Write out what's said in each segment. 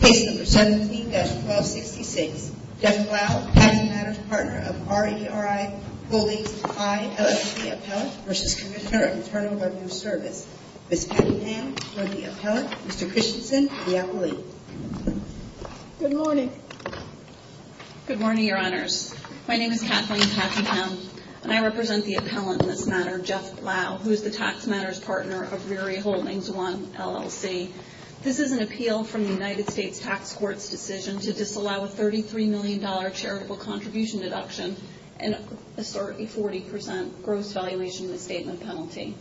Case number 17-1266. Jeff Blau, Tax Matters Partner of RERI Holdings I, LLC Appellant v. Commissioner of Internal Revenue Service. Ms. Kathleen Hamm, RERI Appellant. Mr. Christensen, the appellate. Good morning. Good morning, Your Honors. My name is Kathleen Hamm and I represent the appellant in this matter, Jeff Blau, who is the Tax Matters Partner of RERI Holdings I, LLC. This is an appeal from the United States Tax Court's decision to disallow a $33 million charitable contribution deduction and a 40% gross valuation misstatement penalty.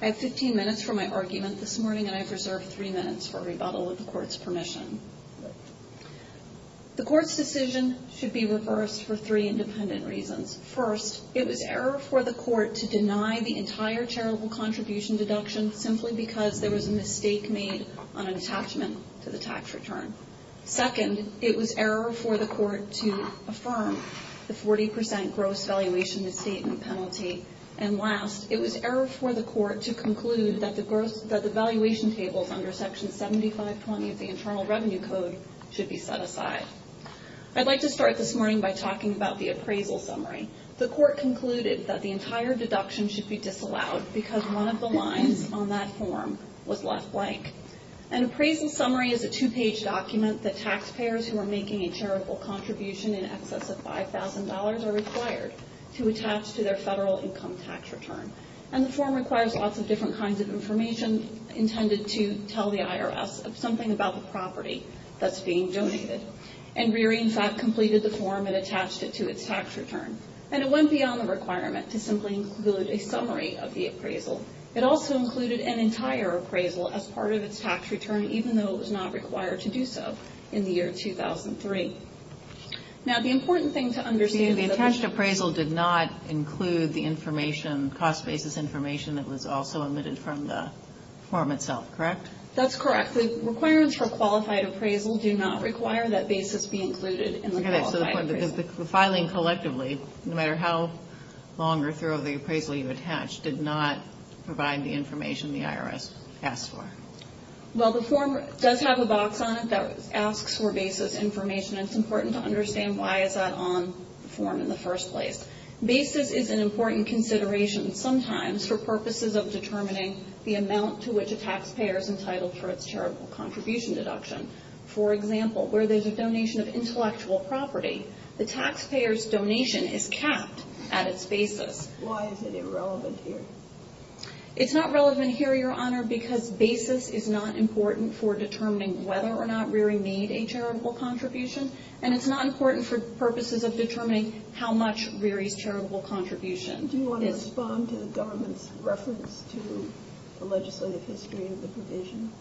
I have 15 minutes for my argument this morning and I have reserved 3 minutes for rebuttal of the Court's permission. The Court's decision should be reversed for three independent reasons. First, it was error for the Court to deny the entire charitable contribution deduction simply because there was a mistake made on an attachment to the tax return. Second, it was error for the Court to affirm the 40% gross valuation misstatement penalty. And last, it was error for the Court to conclude that the valuation tables under Section 7520 of the Internal Revenue Code should be set aside. I'd like to start this morning by talking about the appraisal summary. The Court concluded that the entire deduction should be disallowed because one of the lines on that form was left blank. An appraisal summary is a two-page document that taxpayers who are making a charitable contribution in excess of $5,000 are required to attach to their federal income tax return. And the form requires lots of different kinds of information intended to tell the IRS something about the property that's being donated. And RERI, in fact, completed the form and attached it to its tax return. And it went beyond the requirement to simply include a summary of the appraisal. It also included an entire appraisal as part of its tax return, even though it was not required to do so in the year 2003. Now, the important thing to understand is that the attached appraisal did not include the information, cost basis information that was also omitted from the form itself, correct? That's correct. The requirements for qualified appraisal do not require that basis be included in the qualified appraisal. The filing collectively, no matter how long or thorough the appraisal you attach, did not provide the information the IRS asked for. Well, the form does have a box on it that asks for basis information, and it's important to understand why is that on the form in the first place. Basis is an important consideration sometimes for purposes of determining the amount to which a taxpayer is entitled for its charitable contribution deduction. For example, where there's a donation of intellectual property, the taxpayer's donation is capped at its basis. Why is it irrelevant here? It's not relevant here, Your Honor, because basis is not important for determining whether or not Reary made a charitable contribution, and it's not important for purposes of determining how much Reary's charitable contribution is. Do you want to respond to the government's reference to the legislative history of the provision?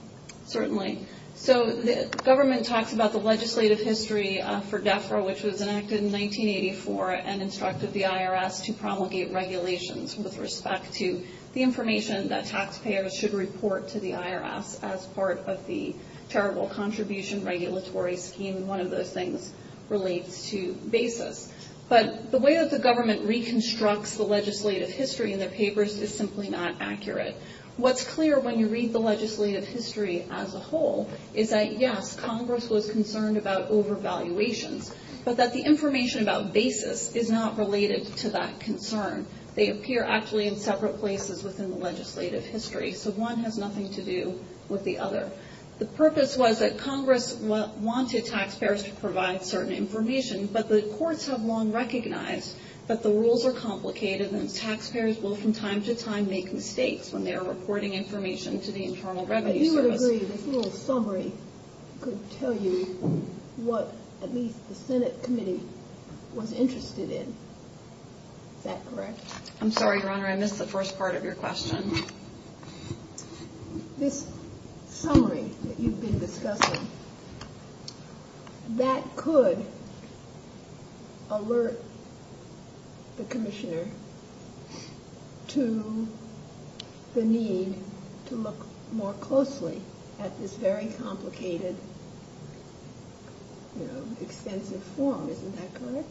Certainly. So the government talks about the legislative history for DEFRA, which was enacted in 1984 and instructed the IRS to promulgate regulations with respect to the information that taxpayers should report to the IRS as part of the charitable contribution regulatory scheme, and one of those things relates to basis. But the way that the government reconstructs the legislative history in their papers is simply not accurate. What's clear when you read the legislative history as a whole is that, yes, Congress was concerned about overvaluations, but that the information about basis is not related to that concern. They appear actually in separate places within the legislative history, so one has nothing to do with the other. The purpose was that Congress wanted taxpayers to provide certain information, but the courts have long recognized that the rules are complicated and taxpayers will from time to time make mistakes when they are reporting information to the Internal Revenue Service. But you would agree this little summary could tell you what at least the Senate committee was interested in. Is that correct? I'm sorry, Your Honor, I missed the first part of your question. This summary that you've been discussing, that could alert the commissioner to the need to look more closely at this very complicated, extensive form. Isn't that correct?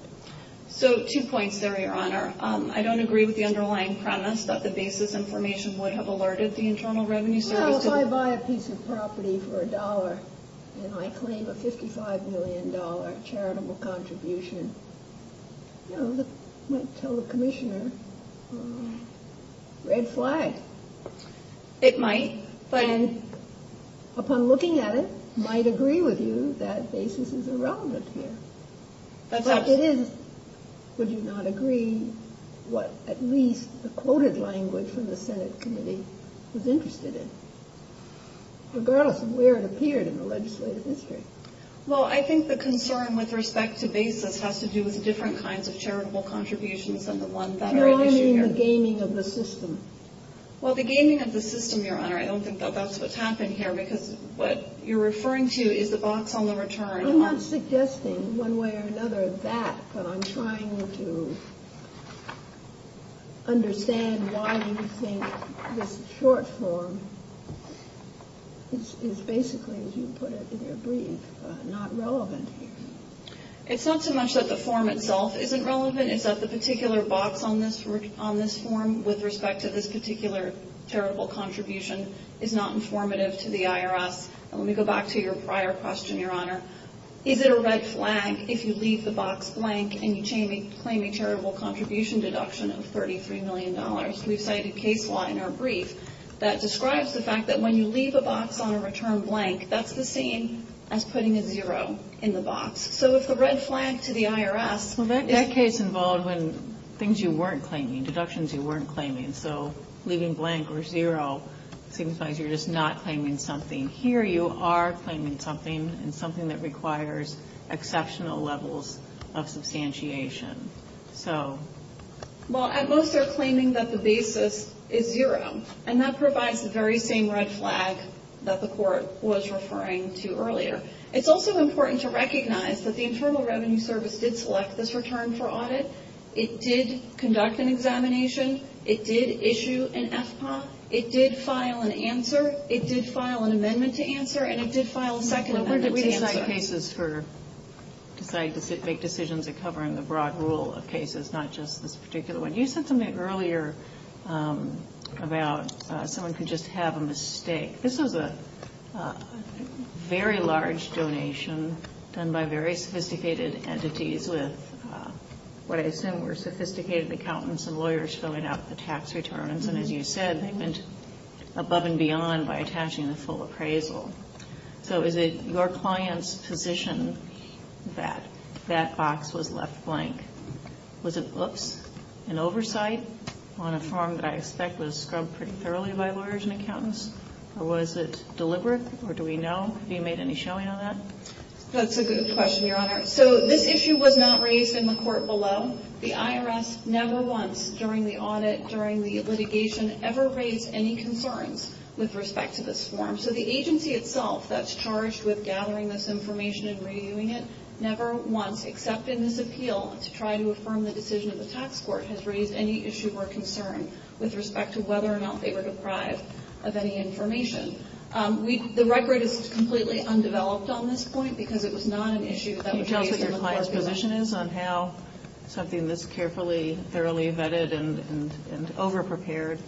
Your Honor, I don't agree with the underlying premise that the basis information would have alerted the Internal Revenue Service. Well, if I buy a piece of property for a dollar and I claim a $55 million charitable contribution, you know, that might tell the commissioner red flag. It might. But upon looking at it, might agree with you that basis is irrelevant here. But it is. Would you not agree what at least the quoted language from the Senate committee was interested in, regardless of where it appeared in the legislative history? Well, I think the concern with respect to basis has to do with different kinds of charitable contributions than the one that are at issue here. No, I mean the gaming of the system. Well, the gaming of the system, Your Honor, I don't think that that's what's happened here, because what you're referring to is the box on the return. I'm not suggesting one way or another that, but I'm trying to understand why you think this short form is basically, as you put it in your brief, not relevant. It's not so much that the form itself isn't relevant. It's that the particular box on this form with respect to this particular charitable contribution is not informative to the IRS. And let me go back to your prior question, Your Honor. Is it a red flag if you leave the box blank and you claim a charitable contribution deduction of $33 million? We've cited case law in our brief that describes the fact that when you leave a box on a return blank, that's the same as putting a zero in the box. So if the red flag to the IRS is the same. Well, that case involved when things you weren't claiming, deductions you weren't claiming. So leaving blank or zero signifies you're just not claiming something. Here you are claiming something, and something that requires exceptional levels of substantiation. Well, at most they're claiming that the basis is zero, and that provides the very same red flag that the court was referring to earlier. It's also important to recognize that the Internal Revenue Service did select this return for audit. It did conduct an examination. It did issue an FPA. It did file an answer. It did file an amendment to answer. And it did file a second amendment to answer. Well, where did we decide cases for, decide to make decisions that cover in the broad rule of cases, not just this particular one? You said something earlier about someone could just have a mistake. This was a very large donation done by very sophisticated entities with what I assume were sophisticated accountants and lawyers filling out the tax returns. And as you said, they went above and beyond by attaching the full appraisal. So is it your client's position that that box was left blank? Was it an oversight on a form that I expect was scrubbed pretty thoroughly by lawyers and accountants? Or was it deliberate? Or do we know? Have you made any showing on that? That's a good question, Your Honor. So this issue was not raised in the court below. The IRS never once during the audit, during the litigation, ever raised any concerns with respect to this form. So the agency itself that's charged with gathering this information and reviewing it never once, except in this appeal to try to affirm the decision of the tax court, has raised any issue or concern with respect to whether or not they were deprived of any information. The record is completely undeveloped on this point because it was not an issue that was raised in the court below. Can you tell us what your client's position is on how something this carefully, thoroughly vetted and overprepared?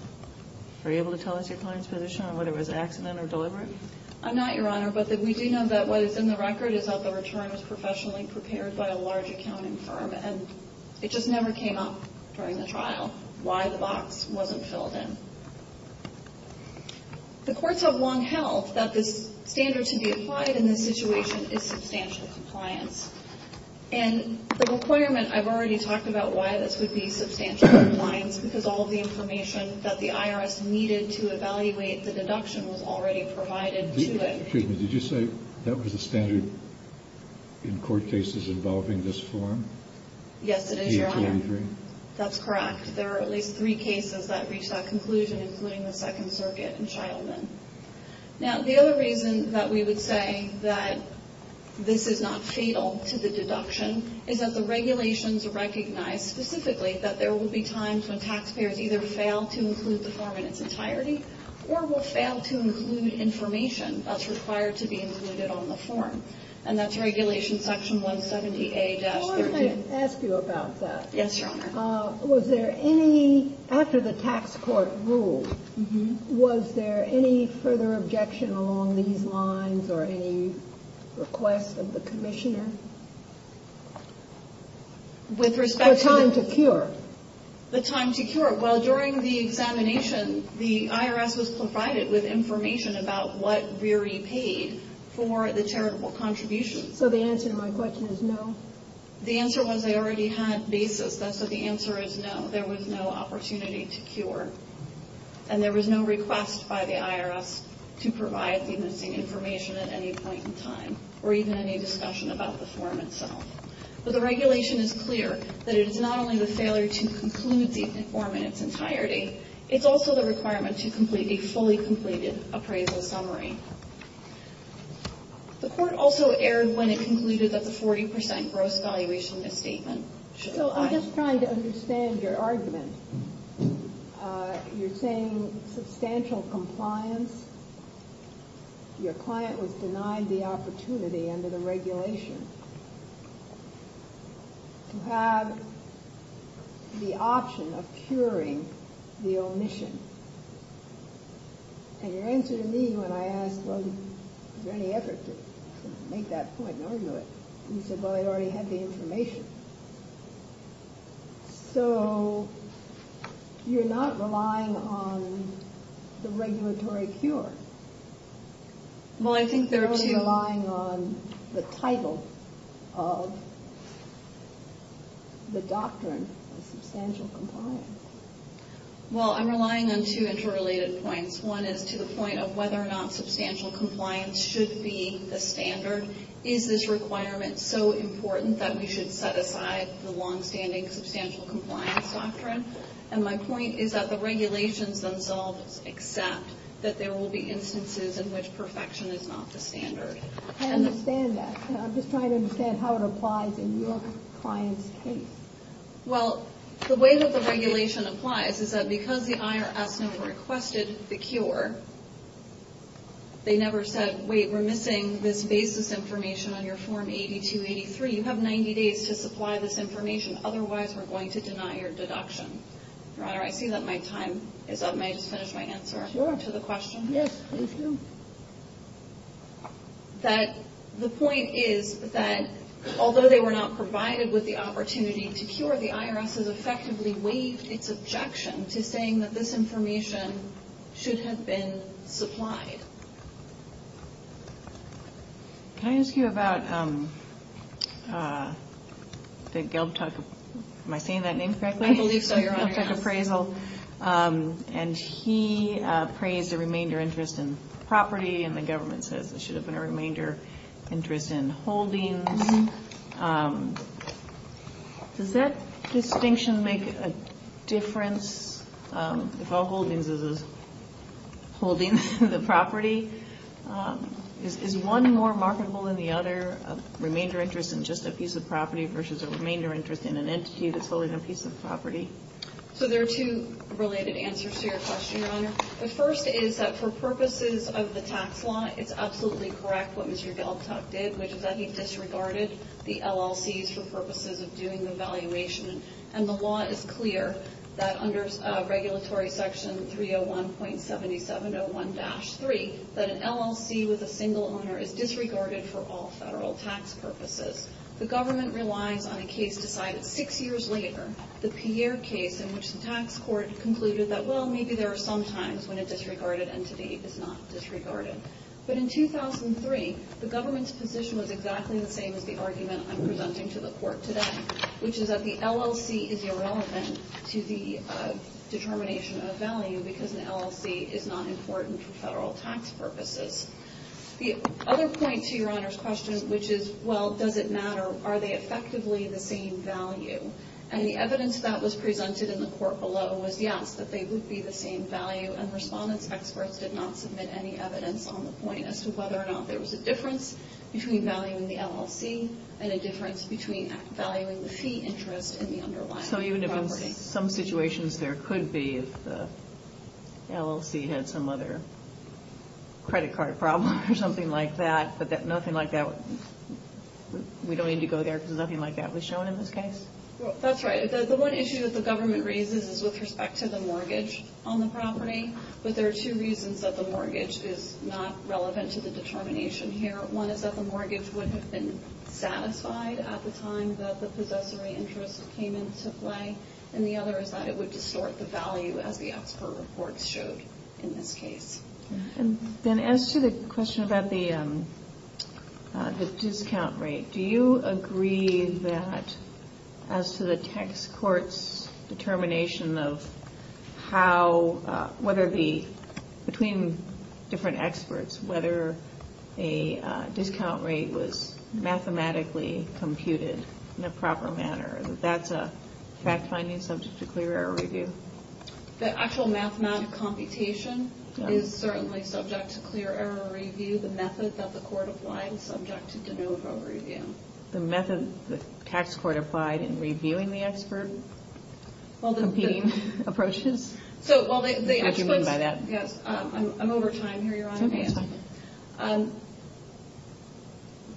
Are you able to tell us your client's position on whether it was accident or deliberate? I'm not, Your Honor. But we do know that what is in the record is that the return was professionally prepared by a large accounting firm. And it just never came up during the trial why the box wasn't filled in. The courts have long held that this standard to be applied in this situation is substantial compliance. And the requirement, I've already talked about why this would be substantial compliance, because all of the information that the IRS needed to evaluate the deduction was already provided to it. Excuse me, did you say that was the standard in court cases involving this form? Yes, it is, Your Honor. D-23? That's correct. There are at least three cases that reach that conclusion, including the Second Circuit and Shilman. Now, the other reason that we would say that this is not fatal to the deduction is that the regulations recognize specifically that there will be times when taxpayers either fail to include the form in its entirety or will fail to include information that's required to be included on the form. And that's Regulation Section 170A-13. Well, let me ask you about that. Yes, Your Honor. Was there any, after the tax court ruled, was there any further objection along these lines or any request of the Commissioner? With respect to the time to cure? The time to cure. Well, during the examination, the IRS was provided with information about what we repaid for the charitable contributions. So the answer to my question is no? The answer was they already had basis. That's why the answer is no. There was no opportunity to cure. And there was no request by the IRS to provide the missing information at any point in time or even any discussion about the form itself. But the regulation is clear that it is not only the failure to conclude the form in its entirety, it's also the requirement to complete a fully completed appraisal summary. The Court also erred when it concluded that the 40 percent gross valuation misstatement should apply. So I'm just trying to understand your argument. You're saying substantial compliance. Your client was denied the opportunity under the regulation to have the option of curing the omission. And your answer to me when I asked, well, is there any effort to make that point and argue it? You said, well, they already had the information. So you're not relying on the regulatory cure. You're relying on the title of the doctrine of substantial compliance. Well, I'm relying on two interrelated points. One is to the point of whether or not substantial compliance should be the standard. Is this requirement so important that we should set aside the longstanding substantial compliance doctrine? And my point is that the regulations themselves accept that there will be instances in which perfection is not the standard. I understand that. I'm just trying to understand how it applies in your client's case. Well, the way that the regulation applies is that because the IRS never requested the cure, they never said, wait, we're missing this basis information on your form 8283. You have 90 days to supply this information. Otherwise, we're going to deny your deduction. Your Honor, I see that my time is up. May I just finish my answer to the question? Yes, please do. That the point is that although they were not provided with the opportunity to cure, the IRS has effectively waived its objection to saying that this information should have been supplied. Can I ask you about the Gelbtok? Am I saying that name correctly? I believe so, Your Honor. Gelbtok appraisal. And he praised the remainder interest in property. And the government says there should have been a remainder interest in holdings. Does that distinction make a difference? If all holdings is holding the property, is one more marketable than the other? A remainder interest in just a piece of property versus a remainder interest in an entity that's holding a piece of property? So there are two related answers to your question, Your Honor. The first is that for purposes of the tax law, it's absolutely correct what Mr. Gelbtok did, which is that he disregarded the LLCs for purposes of doing the valuation. And the law is clear that under Regulatory Section 301.7701-3, that an LLC with a single owner is disregarded for all federal tax purposes. The government relies on a case decided six years later, the Pierre case, in which the tax court concluded that, well, maybe there are some times when a disregarded entity is not disregarded. But in 2003, the government's position was exactly the same as the argument I'm presenting to the court today, which is that the LLC is irrelevant to the determination of value because an LLC is not important for federal tax purposes. The other point to Your Honor's question, which is, well, does it matter? Are they effectively the same value? And the evidence that was presented in the court below was yes, that they would be the same value. And respondents experts did not submit any evidence on the point as to whether or not there was a difference between valuing the LLC and a difference between valuing the fee interest in the underlying property. So even if in some situations there could be, if the LLC had some other credit card problem or something like that, but that nothing like that, we don't need to go there because nothing like that was shown in this case? That's right. The one issue that the government raises is with respect to the mortgage on the property, but there are two reasons that the mortgage is not relevant to the determination here. One is that the mortgage would have been satisfied at the time that the possessory interest payment took place, and the other is that it would distort the value as the expert reports showed in this case. And then as to the question about the discount rate, do you agree that as to the tax court's determination of how, whether the, between different experts, whether a discount rate was mathematically computed in a proper manner, that that's a fact finding subject to clear error review? The actual mathematical computation is certainly subject to clear error review. The method that the court applied is subject to de novo review. The method the tax court applied in reviewing the expert? Well, the... Competing approaches? So, well, the experts... What do you mean by that? Yes, I'm over time here, Your Honor. It's okay, it's fine.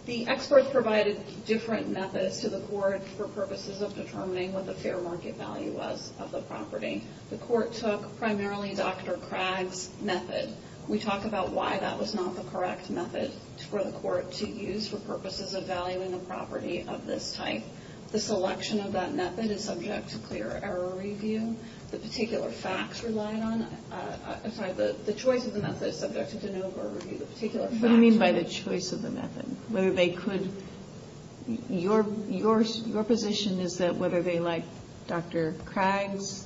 The experts provided different methods to the court for purposes of determining what the fair market value was of the property. The court took primarily Dr. Craig's method. We talked about why that was not the correct method for the court to use for purposes of valuing a property of this type. The selection of that method is subject to clear error review. The particular facts relied on... I'm sorry, the choice of the method is subject to de novo review. The particular facts... What do you mean by the choice of the method? Whether they could... Your position is that whether they liked Dr. Craig's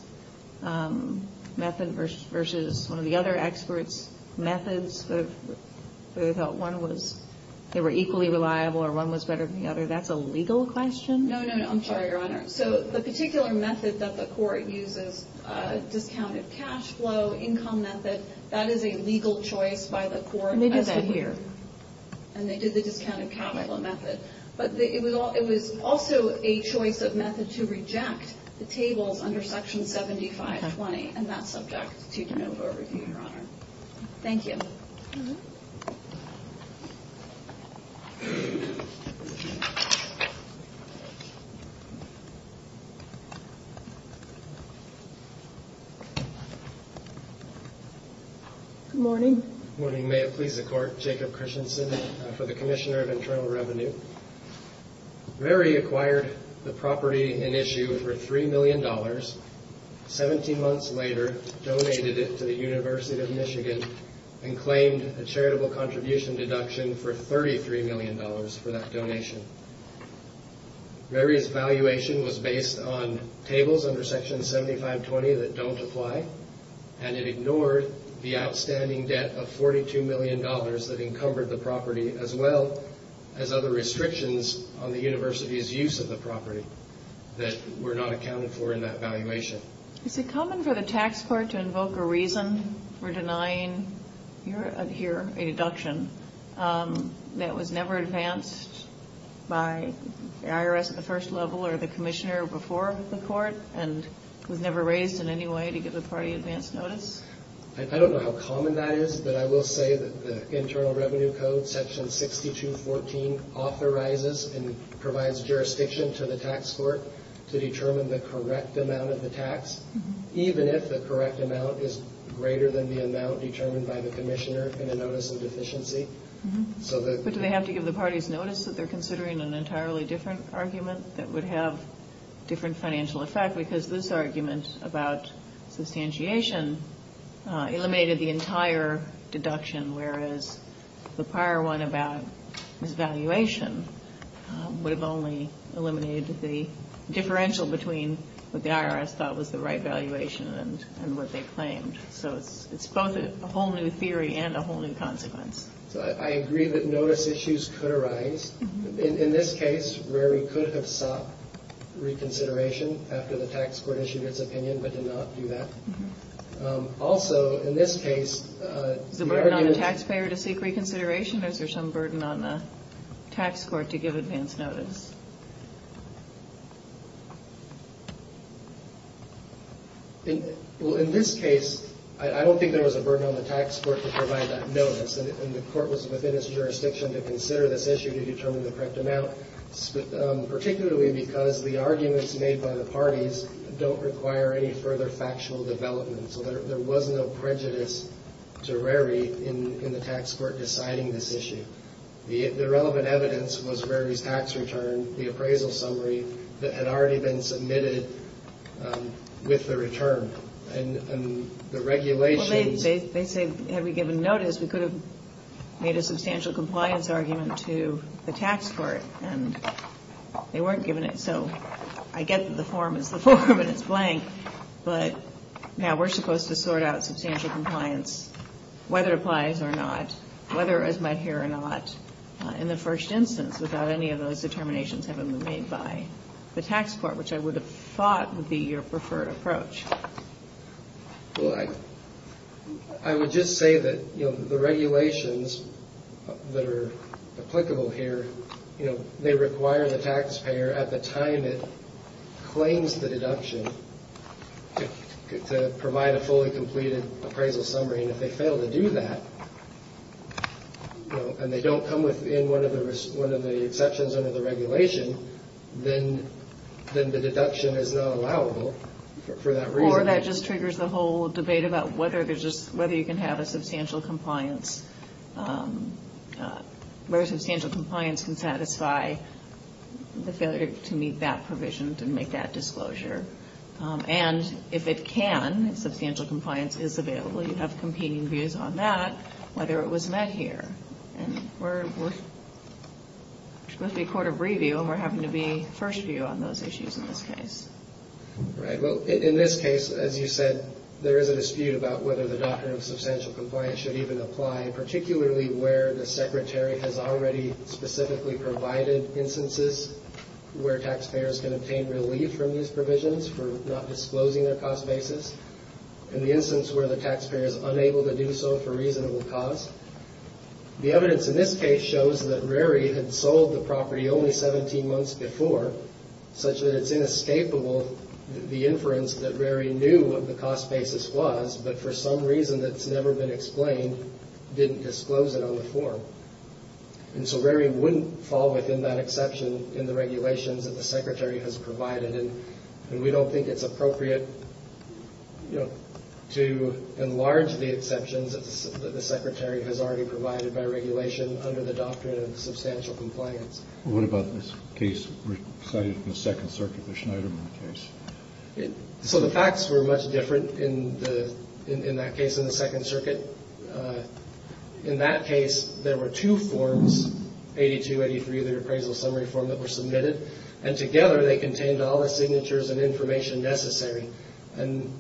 method versus one of the other experts' methods, whether they thought one was equally reliable or one was better than the other, that's a legal question? No, no, no. I'm sorry, Your Honor. So the particular method that the court uses, discounted cash flow, income method, that is a legal choice by the court as to who... And they did that here. And they did the discounted capital method. But it was also a choice of method to reject the tables under Section 7520, and that's subject to de novo review, Your Honor. Thank you. Good morning. Good morning. You may have pleased the court, Jacob Christensen, for the Commissioner of Internal Revenue. Mary acquired the property in issue for $3 million, 17 months later donated it to the University of Michigan and claimed a charitable contribution deduction for $33 million for that donation. Mary's valuation was based on tables under Section 7520 that don't apply, and it ignored the outstanding debt of $42 million that encumbered the property as well as other restrictions on the university's use of the property that were not accounted for in that valuation. Is it common for the tax court to invoke a reason for denying here a deduction that was never advanced by the IRS at the first level or the commissioner before the court and was never raised in any way to give the party advance notice? I don't know how common that is, but I will say that the Internal Revenue Code, Section 6214, authorizes and provides jurisdiction to the tax court to determine the correct amount of the tax, even if the correct amount is greater than the amount determined by the commissioner in a notice of deficiency. But do they have to give the parties notice that they're considering an entirely different argument that would have different financial effect? Because this argument about substantiation eliminated the entire deduction, whereas the prior one about this valuation would have only eliminated the differential between what the IRS thought was the right valuation and what they claimed. So it's both a whole new theory and a whole new consequence. So I agree that notice issues could arise. In this case, where we could have sought reconsideration after the tax court issued its opinion but did not do that. Also, in this case... Is there a burden on the taxpayer to seek reconsideration or is there some burden on the tax court to give advance notice? In this case, I don't think there was a burden on the tax court to provide that notice. And the court was within its jurisdiction to consider this issue, to determine the correct amount, particularly because the arguments made by the parties don't require any further factual development. So there was no prejudice to Rary in the tax court deciding this issue. The relevant evidence was Rary's tax return, the appraisal summary that had already been submitted with the return. And the regulations... made a substantial compliance argument to the tax court. And they weren't given it. So I get that the form is the form and it's blank. But now we're supposed to sort out substantial compliance, whether it applies or not, whether it was met here or not in the first instance without any of those determinations having been made by the tax court, which I would have thought would be your preferred approach. Well, I would just say that the regulations that are applicable here, they require the taxpayer at the time it claims the deduction to provide a fully completed appraisal summary. And if they fail to do that, and they don't come within one of the exceptions under the regulation, then the deduction is not allowable for that reason. Or that just triggers the whole debate about whether you can have a substantial compliance, where substantial compliance can satisfy the failure to meet that provision, to make that disclosure. And if it can, substantial compliance is available. You have competing views on that, whether it was met here. And we're supposed to be a court of review, and we're having to be first view on those issues in this case. Right. Well, in this case, as you said, there is a dispute about whether the doctrine of substantial compliance should even apply, particularly where the secretary has already specifically provided instances where taxpayers can obtain relief from these provisions for not disclosing their cost basis. In the instance where the taxpayer is unable to do so for reasonable cost. The evidence in this case shows that Rary had sold the property only 17 months before, such that it's inescapable the inference that Rary knew what the cost basis was, but for some reason that's never been explained, didn't disclose it on the form. And so Rary wouldn't fall within that exception in the regulations that the secretary has provided, and we don't think it's appropriate, you know, to enlarge the exceptions that the secretary has already provided by regulation under the doctrine of substantial compliance. What about this case cited in the Second Circuit, the Schneiderman case? So the facts were much different in that case in the Second Circuit. In that case, there were two forms, 82, 83, the appraisal summary form that were submitted, and together they contained all the signatures and information necessary. And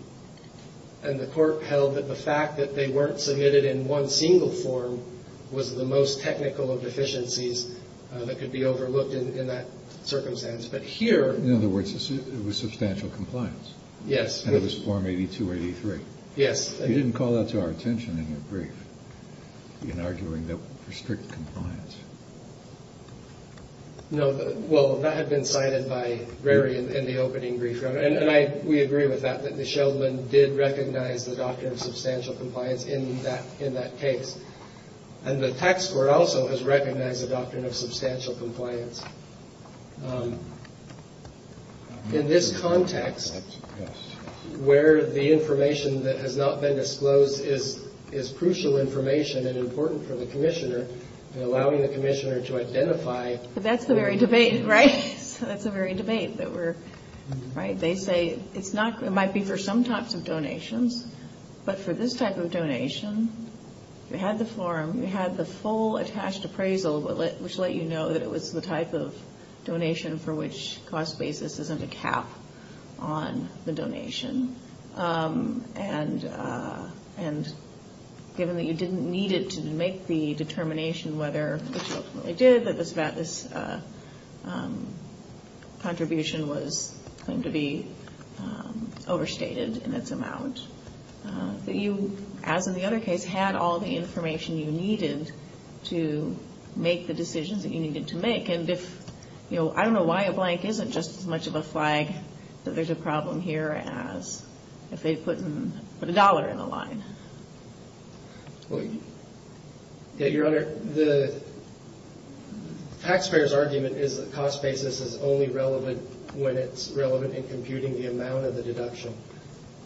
the court held that the fact that they weren't submitted in one single form was the most technical of deficiencies that could be overlooked in that circumstance. But here ---- In other words, it was substantial compliance. Yes. And it was form 82, 83. Yes. You didn't call that to our attention in your brief in arguing that for strict compliance. No. Well, that had been cited by Rary in the opening brief. And we agree with that, that the Sheldman did recognize the doctrine of substantial compliance in that case. And the tax court also has recognized the doctrine of substantial compliance. In this context, where the information that has not been disclosed is crucial information and important for the commissioner in allowing the commissioner to identify ---- But that's the very debate, right? So that's the very debate that we're ---- Right? They say it's not ---- it might be for some types of donations. But for this type of donation, you had the form, you had the full attached appraisal, which let you know that it was the type of donation for which cost basis isn't a cap on the donation. And given that you didn't need it to make the determination whether it ultimately did, that this contribution was going to be overstated in its amount, that you, as in the other case, had all the information you needed to make the decisions that you needed to make. I don't know why a blank isn't just as much of a flag that there's a problem here as if they put a dollar in the line. Your Honor, the taxpayer's argument is that cost basis is only relevant when it's relevant in computing the amount of the deduction.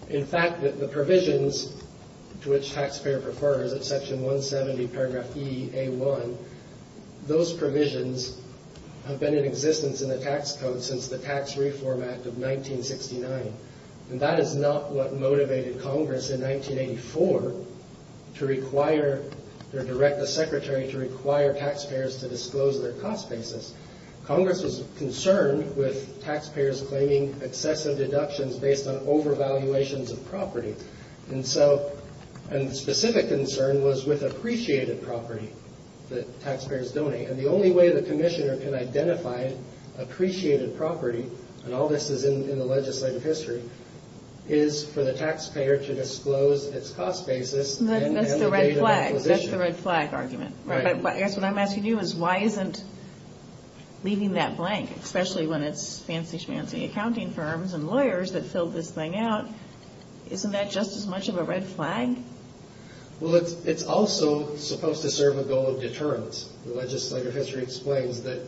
In fact, the provisions to which taxpayer prefers at Section 170, Paragraph E, A1, those provisions have been in existence in the tax code since the Tax Reform Act of 1969. And that is not what motivated Congress in 1984 to require or direct the Secretary to require taxpayers to disclose their cost basis. Congress was concerned with taxpayers claiming excessive deductions based on overvaluations of property. And so a specific concern was with appreciated property that taxpayers donate. And the only way the Commissioner can identify appreciated property, and all this is in the legislative history, is for the taxpayer to disclose its cost basis. That's the red flag argument. Right. But I guess what I'm asking you is why isn't leaving that blank, especially when it's fancy-schmancy accounting firms and lawyers that filled this thing out, isn't that just as much of a red flag? Well, it's also supposed to serve a goal of deterrence. The legislative history explains that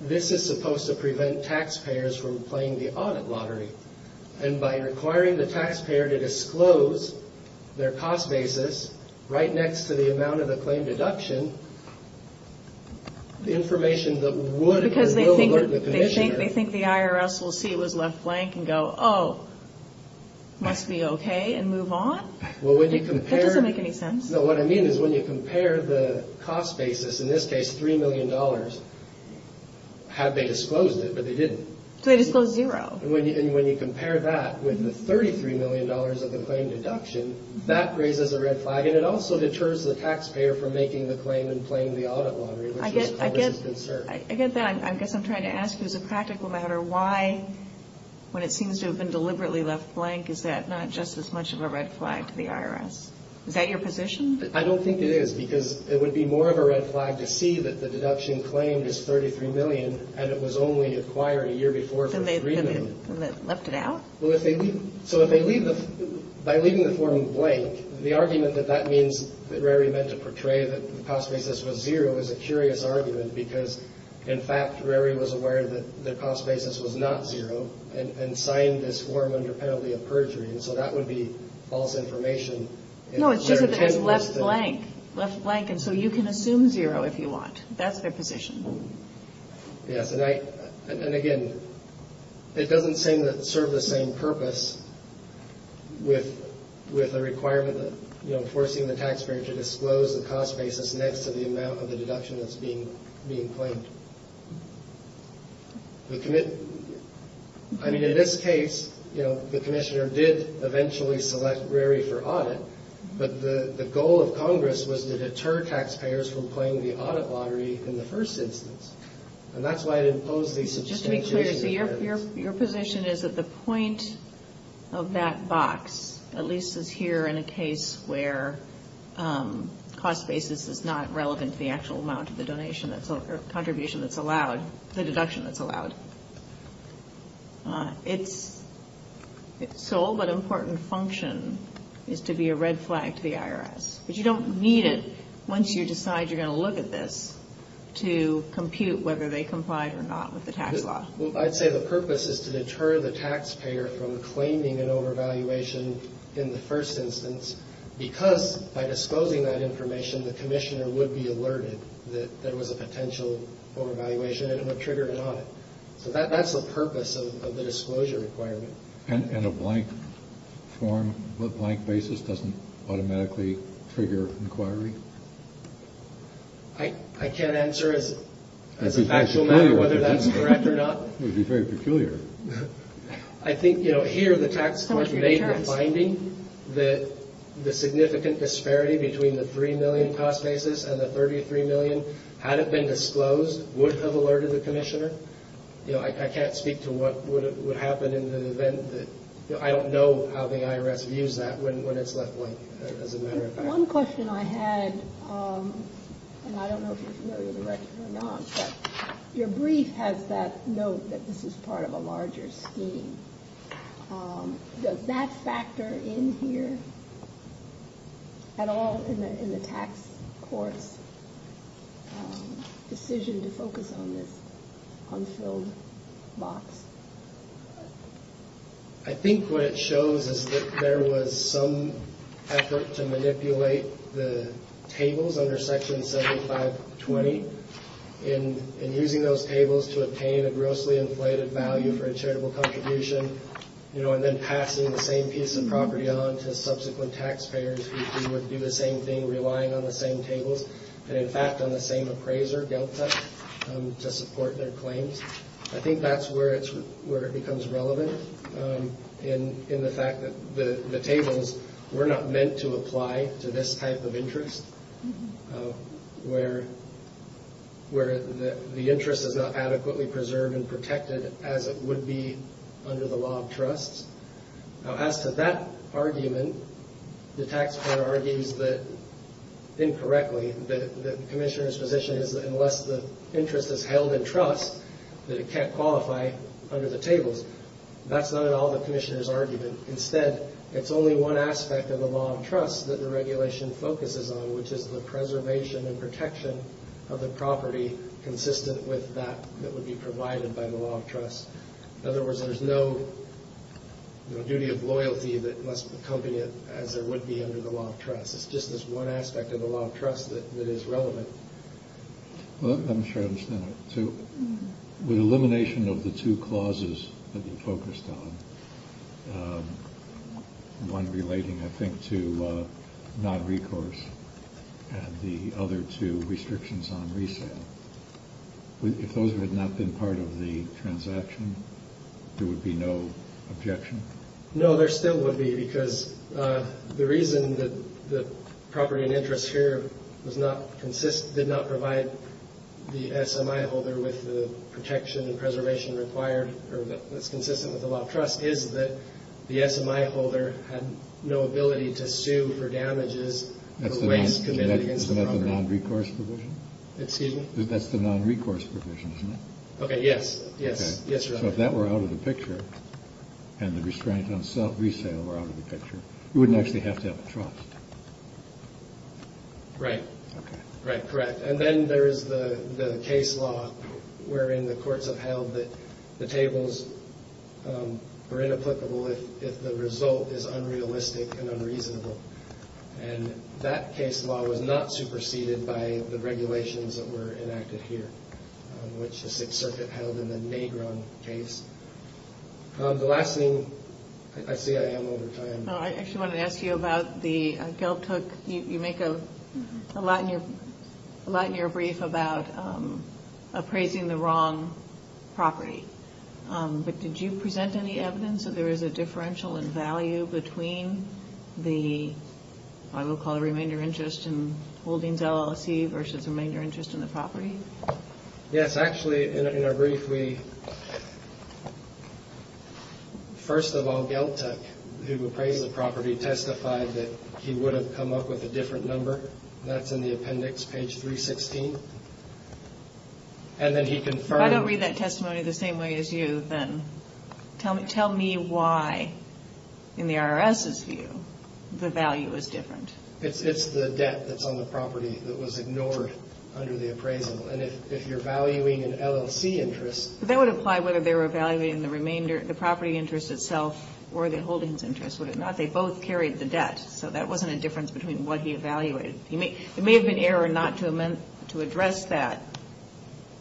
this is supposed to prevent taxpayers from playing the audit lottery. And by requiring the taxpayer to disclose their cost basis right next to the amount of the claim deduction, the information that would or will alert the Commissioner. They think the IRS will see it was left blank and go, oh, must be okay, and move on? Well, when you compare. That doesn't make any sense. No, what I mean is when you compare the cost basis, in this case $3 million, had they disclosed it, but they didn't. So they disclosed zero. And when you compare that with the $33 million of the claim deduction, that raises a red flag. And it also deters the taxpayer from making the claim and playing the audit lottery, which was Congress' concern. I get that. I guess I'm trying to ask, as a practical matter, why, when it seems to have been deliberately left blank, is that not just as much of a red flag to the IRS? Is that your position? I don't think it is, because it would be more of a red flag to see that the deduction claimed is $33 million, and it was only acquired a year before the agreement. Then they left it out? Well, if they leave it. So if they leave it, by leaving the form blank, the argument that that means that Rary meant to portray that the cost basis was zero is a curious argument, because, in fact, Rary was aware that the cost basis was not zero and signed this form under penalty of perjury. And so that would be false information. No, it's just that it was left blank, left blank. And so you can assume zero if you want. That's their position. Yes. And, again, it doesn't seem to serve the same purpose with the requirement that, you know, forcing the taxpayer to disclose the cost basis next to the amount of the deduction that's being claimed. I mean, in this case, you know, the commissioner did eventually select Rary for audit, but the goal of Congress was to deter taxpayers from playing the audit lottery in the first instance. And that's why it imposed these substantiations. Just to be clear, your position is that the point of that box, at least as here in a case where cost basis is not relevant to the actual amount of the donation that's or contribution that's allowed, the deduction that's allowed, its sole but important function is to be a red flag to the IRS. But you don't need it once you decide you're going to look at this to compute whether they complied or not with the tax law. Well, I'd say the purpose is to deter the taxpayer from claiming an overvaluation in the first instance because by disclosing that information, the commissioner would be alerted that there was a potential overvaluation and it would trigger an audit. So that's the purpose of the disclosure requirement. And a blank form, a blank basis doesn't automatically trigger inquiry? I can't answer as a factual matter whether that's correct or not. It would be very peculiar. I think, you know, here the tax court made the finding that the significant disparity between the $3 million cost basis and the $33 million, had it been disclosed, would have alerted the commissioner. You know, I can't speak to what would happen in the event that, you know, I don't know how the IRS views that when it's left blank as a matter of fact. One question I had, and I don't know if you're familiar with the record or not, but your brief has that note that this is part of a larger scheme. Does that factor in here at all in the tax court's decision to focus on this unfilled box? I think what it shows is that there was some effort to manipulate the tables under Section 7520 in using those tables to obtain a grossly inflated value for a charitable contribution, you know, and then passing the same piece of property on to subsequent taxpayers who would do the same thing, relying on the same tables, and in fact on the same appraiser, Delta, to support their claims. I think that's where it becomes relevant in the fact that the tables were not meant to apply to this type of interest, where the interest is not adequately preserved and protected as it would be under the law of trusts. Now, as to that argument, the tax court argues that, incorrectly, that the commissioner's position is that unless the interest is held in trust, that it can't qualify under the tables. Instead, it's only one aspect of the law of trusts that the regulation focuses on, which is the preservation and protection of the property consistent with that that would be provided by the law of trusts. In other words, there's no duty of loyalty that must accompany it as there would be under the law of trusts. It's just this one aspect of the law of trusts that is relevant. Well, I'm sure I understand that. With elimination of the two clauses that you focused on, one relating, I think, to non-recourse, and the other to restrictions on resale, if those had not been part of the transaction, there would be no objection? No, there still would be, because the reason that the property in interest here was not consistent, did not provide the SMI holder with the protection and preservation required, or that's consistent with the law of trusts, is that the SMI holder had no ability to sue for damages for waste committed against the property. Isn't that the non-recourse provision? Excuse me? That's the non-recourse provision, isn't it? Okay. Yes. So if that were out of the picture and the restraint on resale were out of the picture, you wouldn't actually have to have a trust. Right. Okay. Right, correct. And then there is the case law wherein the courts have held that the tables are inapplicable if the result is unrealistic and unreasonable. And that case law was not superseded by the regulations that were enacted here, which the Sixth Circuit held in the Negron case. The last thing, I see I am over time. No, I actually wanted to ask you about the gelt hook. You make a lot in your brief about appraising the wrong property. But did you present any evidence that there is a differential in value between the, I will call it, remainder interest in Holdings LLC versus remainder interest in the property? Yes. Actually, in our brief, we, first of all, Geltuck, who appraised the property, testified that he would have come up with a different number. That's in the appendix, page 316. And then he confirmed. If I don't read that testimony the same way as you, then tell me why, in the IRS's view, the value is different. It's the debt that's on the property that was ignored under the appraisal. And if you're valuing an LLC interest. That would apply whether they were evaluating the property interest itself or the Holdings interest, would it not? They both carried the debt. So that wasn't a difference between what he evaluated. It may have been error not to address that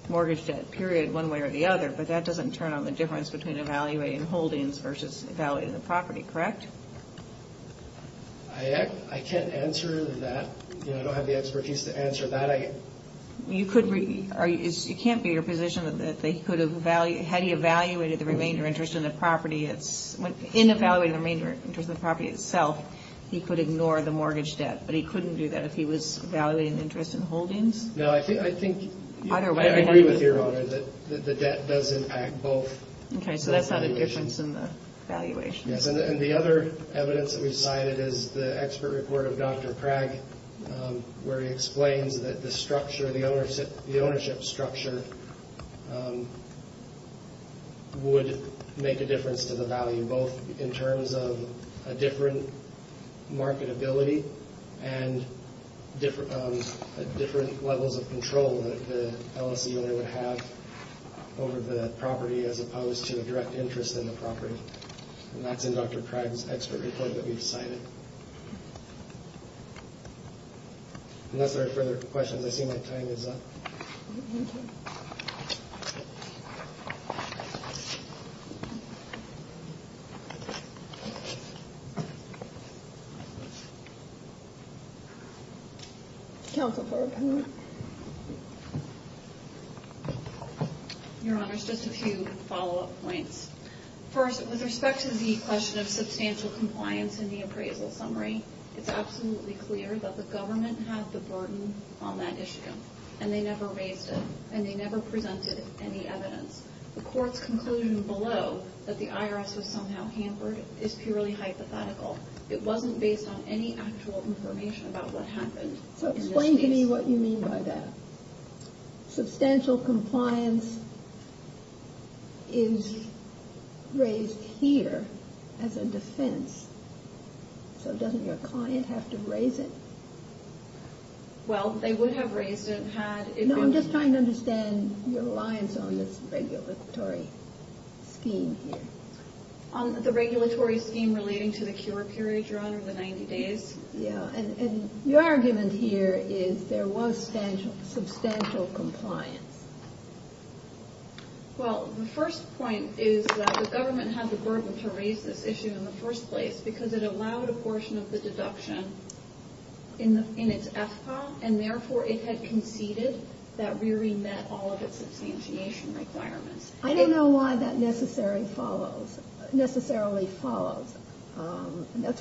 mortgage debt, period, one way or the other. But that doesn't turn on the difference between evaluating Holdings versus evaluating the property, correct? I can't answer that. I don't have the expertise to answer that. You can't be in a position that they could have, had he evaluated the remainder interest in the property, in evaluating the remainder interest in the property itself, he could ignore the mortgage debt. But he couldn't do that if he was evaluating the interest in Holdings? No, I think, I agree with Your Honor that the debt does impact both. Okay, so that's not a difference in the valuation. Yes, and the other evidence that we've cited is the expert report of Dr. Craig, where he explains that the ownership structure would make a difference to the value, both in terms of a different marketability and different levels of control that the LLC owner would have over the property, as opposed to a direct interest in the property. And that's in Dr. Craig's expert report that we've cited. Unless there are further questions, I see my time is up. Thank you. Counsel for opinion. Your Honor, just a few follow-up points. First, with respect to the question of substantial compliance in the appraisal summary, it's absolutely clear that the government had the burden on that issue, and they never raised it, and they never presented any evidence. The court's conclusion below that the IRS was somehow hampered is purely hypothetical. It wasn't based on any actual information about what happened. So explain to me what you mean by that. Substantial compliance is raised here as a defense, so doesn't your client have to raise it? Well, they would have raised it had it been— No, I'm just trying to understand your reliance on this regulatory scheme here. On the regulatory scheme relating to the cure period, Your Honor, the 90 days? Your argument here is there was substantial compliance. Well, the first point is that the government had the burden to raise this issue in the first place because it allowed a portion of the deduction in its FPA, and therefore it had conceded that we remit all of its substantiation requirements. I don't know why that necessarily follows. That's what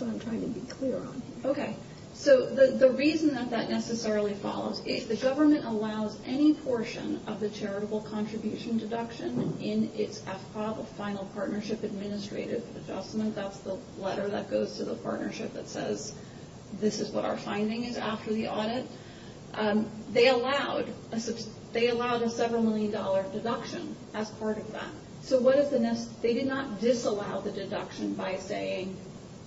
I'm trying to be clear on here. Okay, so the reason that that necessarily follows is the government allows any portion of the charitable contribution deduction in its FPA, the Final Partnership Administrative Adjustment. That's the letter that goes to the partnership that says, this is what our finding is after the audit. They allowed a several million dollar deduction as part of that. So what is the—they did not disallow the deduction by saying,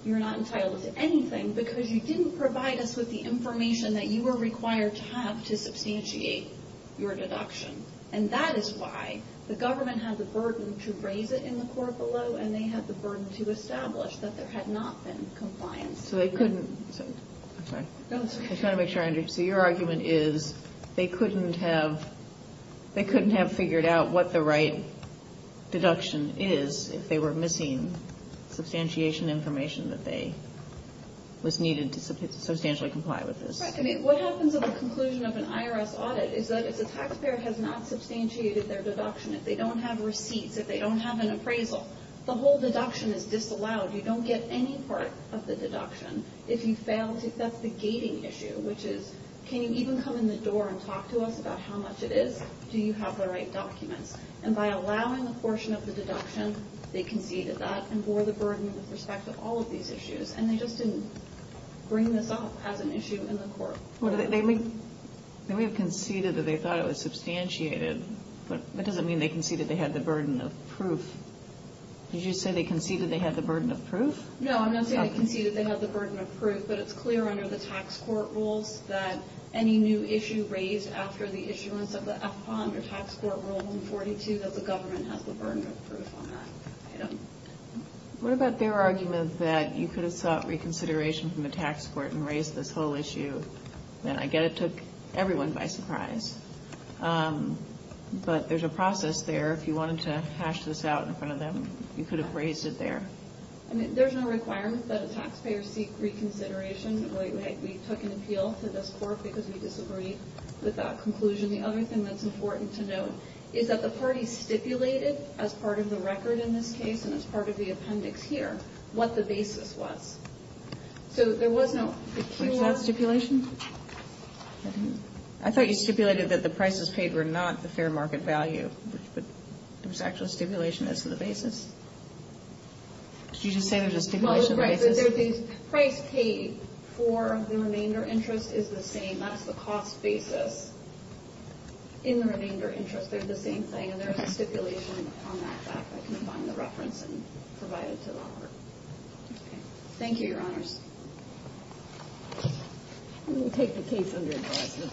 you're not entitled to anything because you didn't provide us with the information that you were required to have to substantiate your deduction. And that is why the government had the burden to raise it in the court below, and they had the burden to establish that there had not been compliance. So they couldn't—I'm sorry. No, that's okay. I'm trying to make sure I understand. So your argument is they couldn't have figured out what the right deduction is if they were missing substantiation information that was needed to substantially comply with this. Right. What happens at the conclusion of an IRS audit is that if the taxpayer has not substantiated their deduction, if they don't have receipts, if they don't have an appraisal, the whole deduction is disallowed. You don't get any part of the deduction if you fail to—that's the gating issue, which is can you even come in the door and talk to us about how much it is? Do you have the right documents? And by allowing a portion of the deduction, they conceded that and bore the burden with respect to all of these issues. And they just didn't bring this up as an issue in the court. They may have conceded that they thought it was substantiated, but that doesn't mean they conceded they had the burden of proof. Did you say they conceded they had the burden of proof? No, I'm not saying they conceded they had the burden of proof, but it's clear under the tax court rules that any new issue raised after the issuance of the FPA under Tax Court Rule 142 that the government has the burden of proof on that item. What about their argument that you could have sought reconsideration from the tax court and raised this whole issue, and I get it took everyone by surprise. But there's a process there. If you wanted to hash this out in front of them, you could have raised it there. I mean, there's no requirement that a taxpayer seek reconsideration. We took an appeal to this court because we disagree with that conclusion. The other thing that's important to note is that the parties stipulated, as part of the record in this case and as part of the appendix here, what the basis was. So there was no... Was that stipulation? I thought you stipulated that the prices paid were not the fair market value, but there was actually stipulation as to the basis? Did you just say there was a stipulation basis? Well, the price paid for the remainder interest is the same. That's the cost basis. In the remainder interest, they're the same thing, and there's a stipulation on that fact. I can find the reference and provide it to Robert. Okay. Thank you, Your Honors. We will take the case under advisement.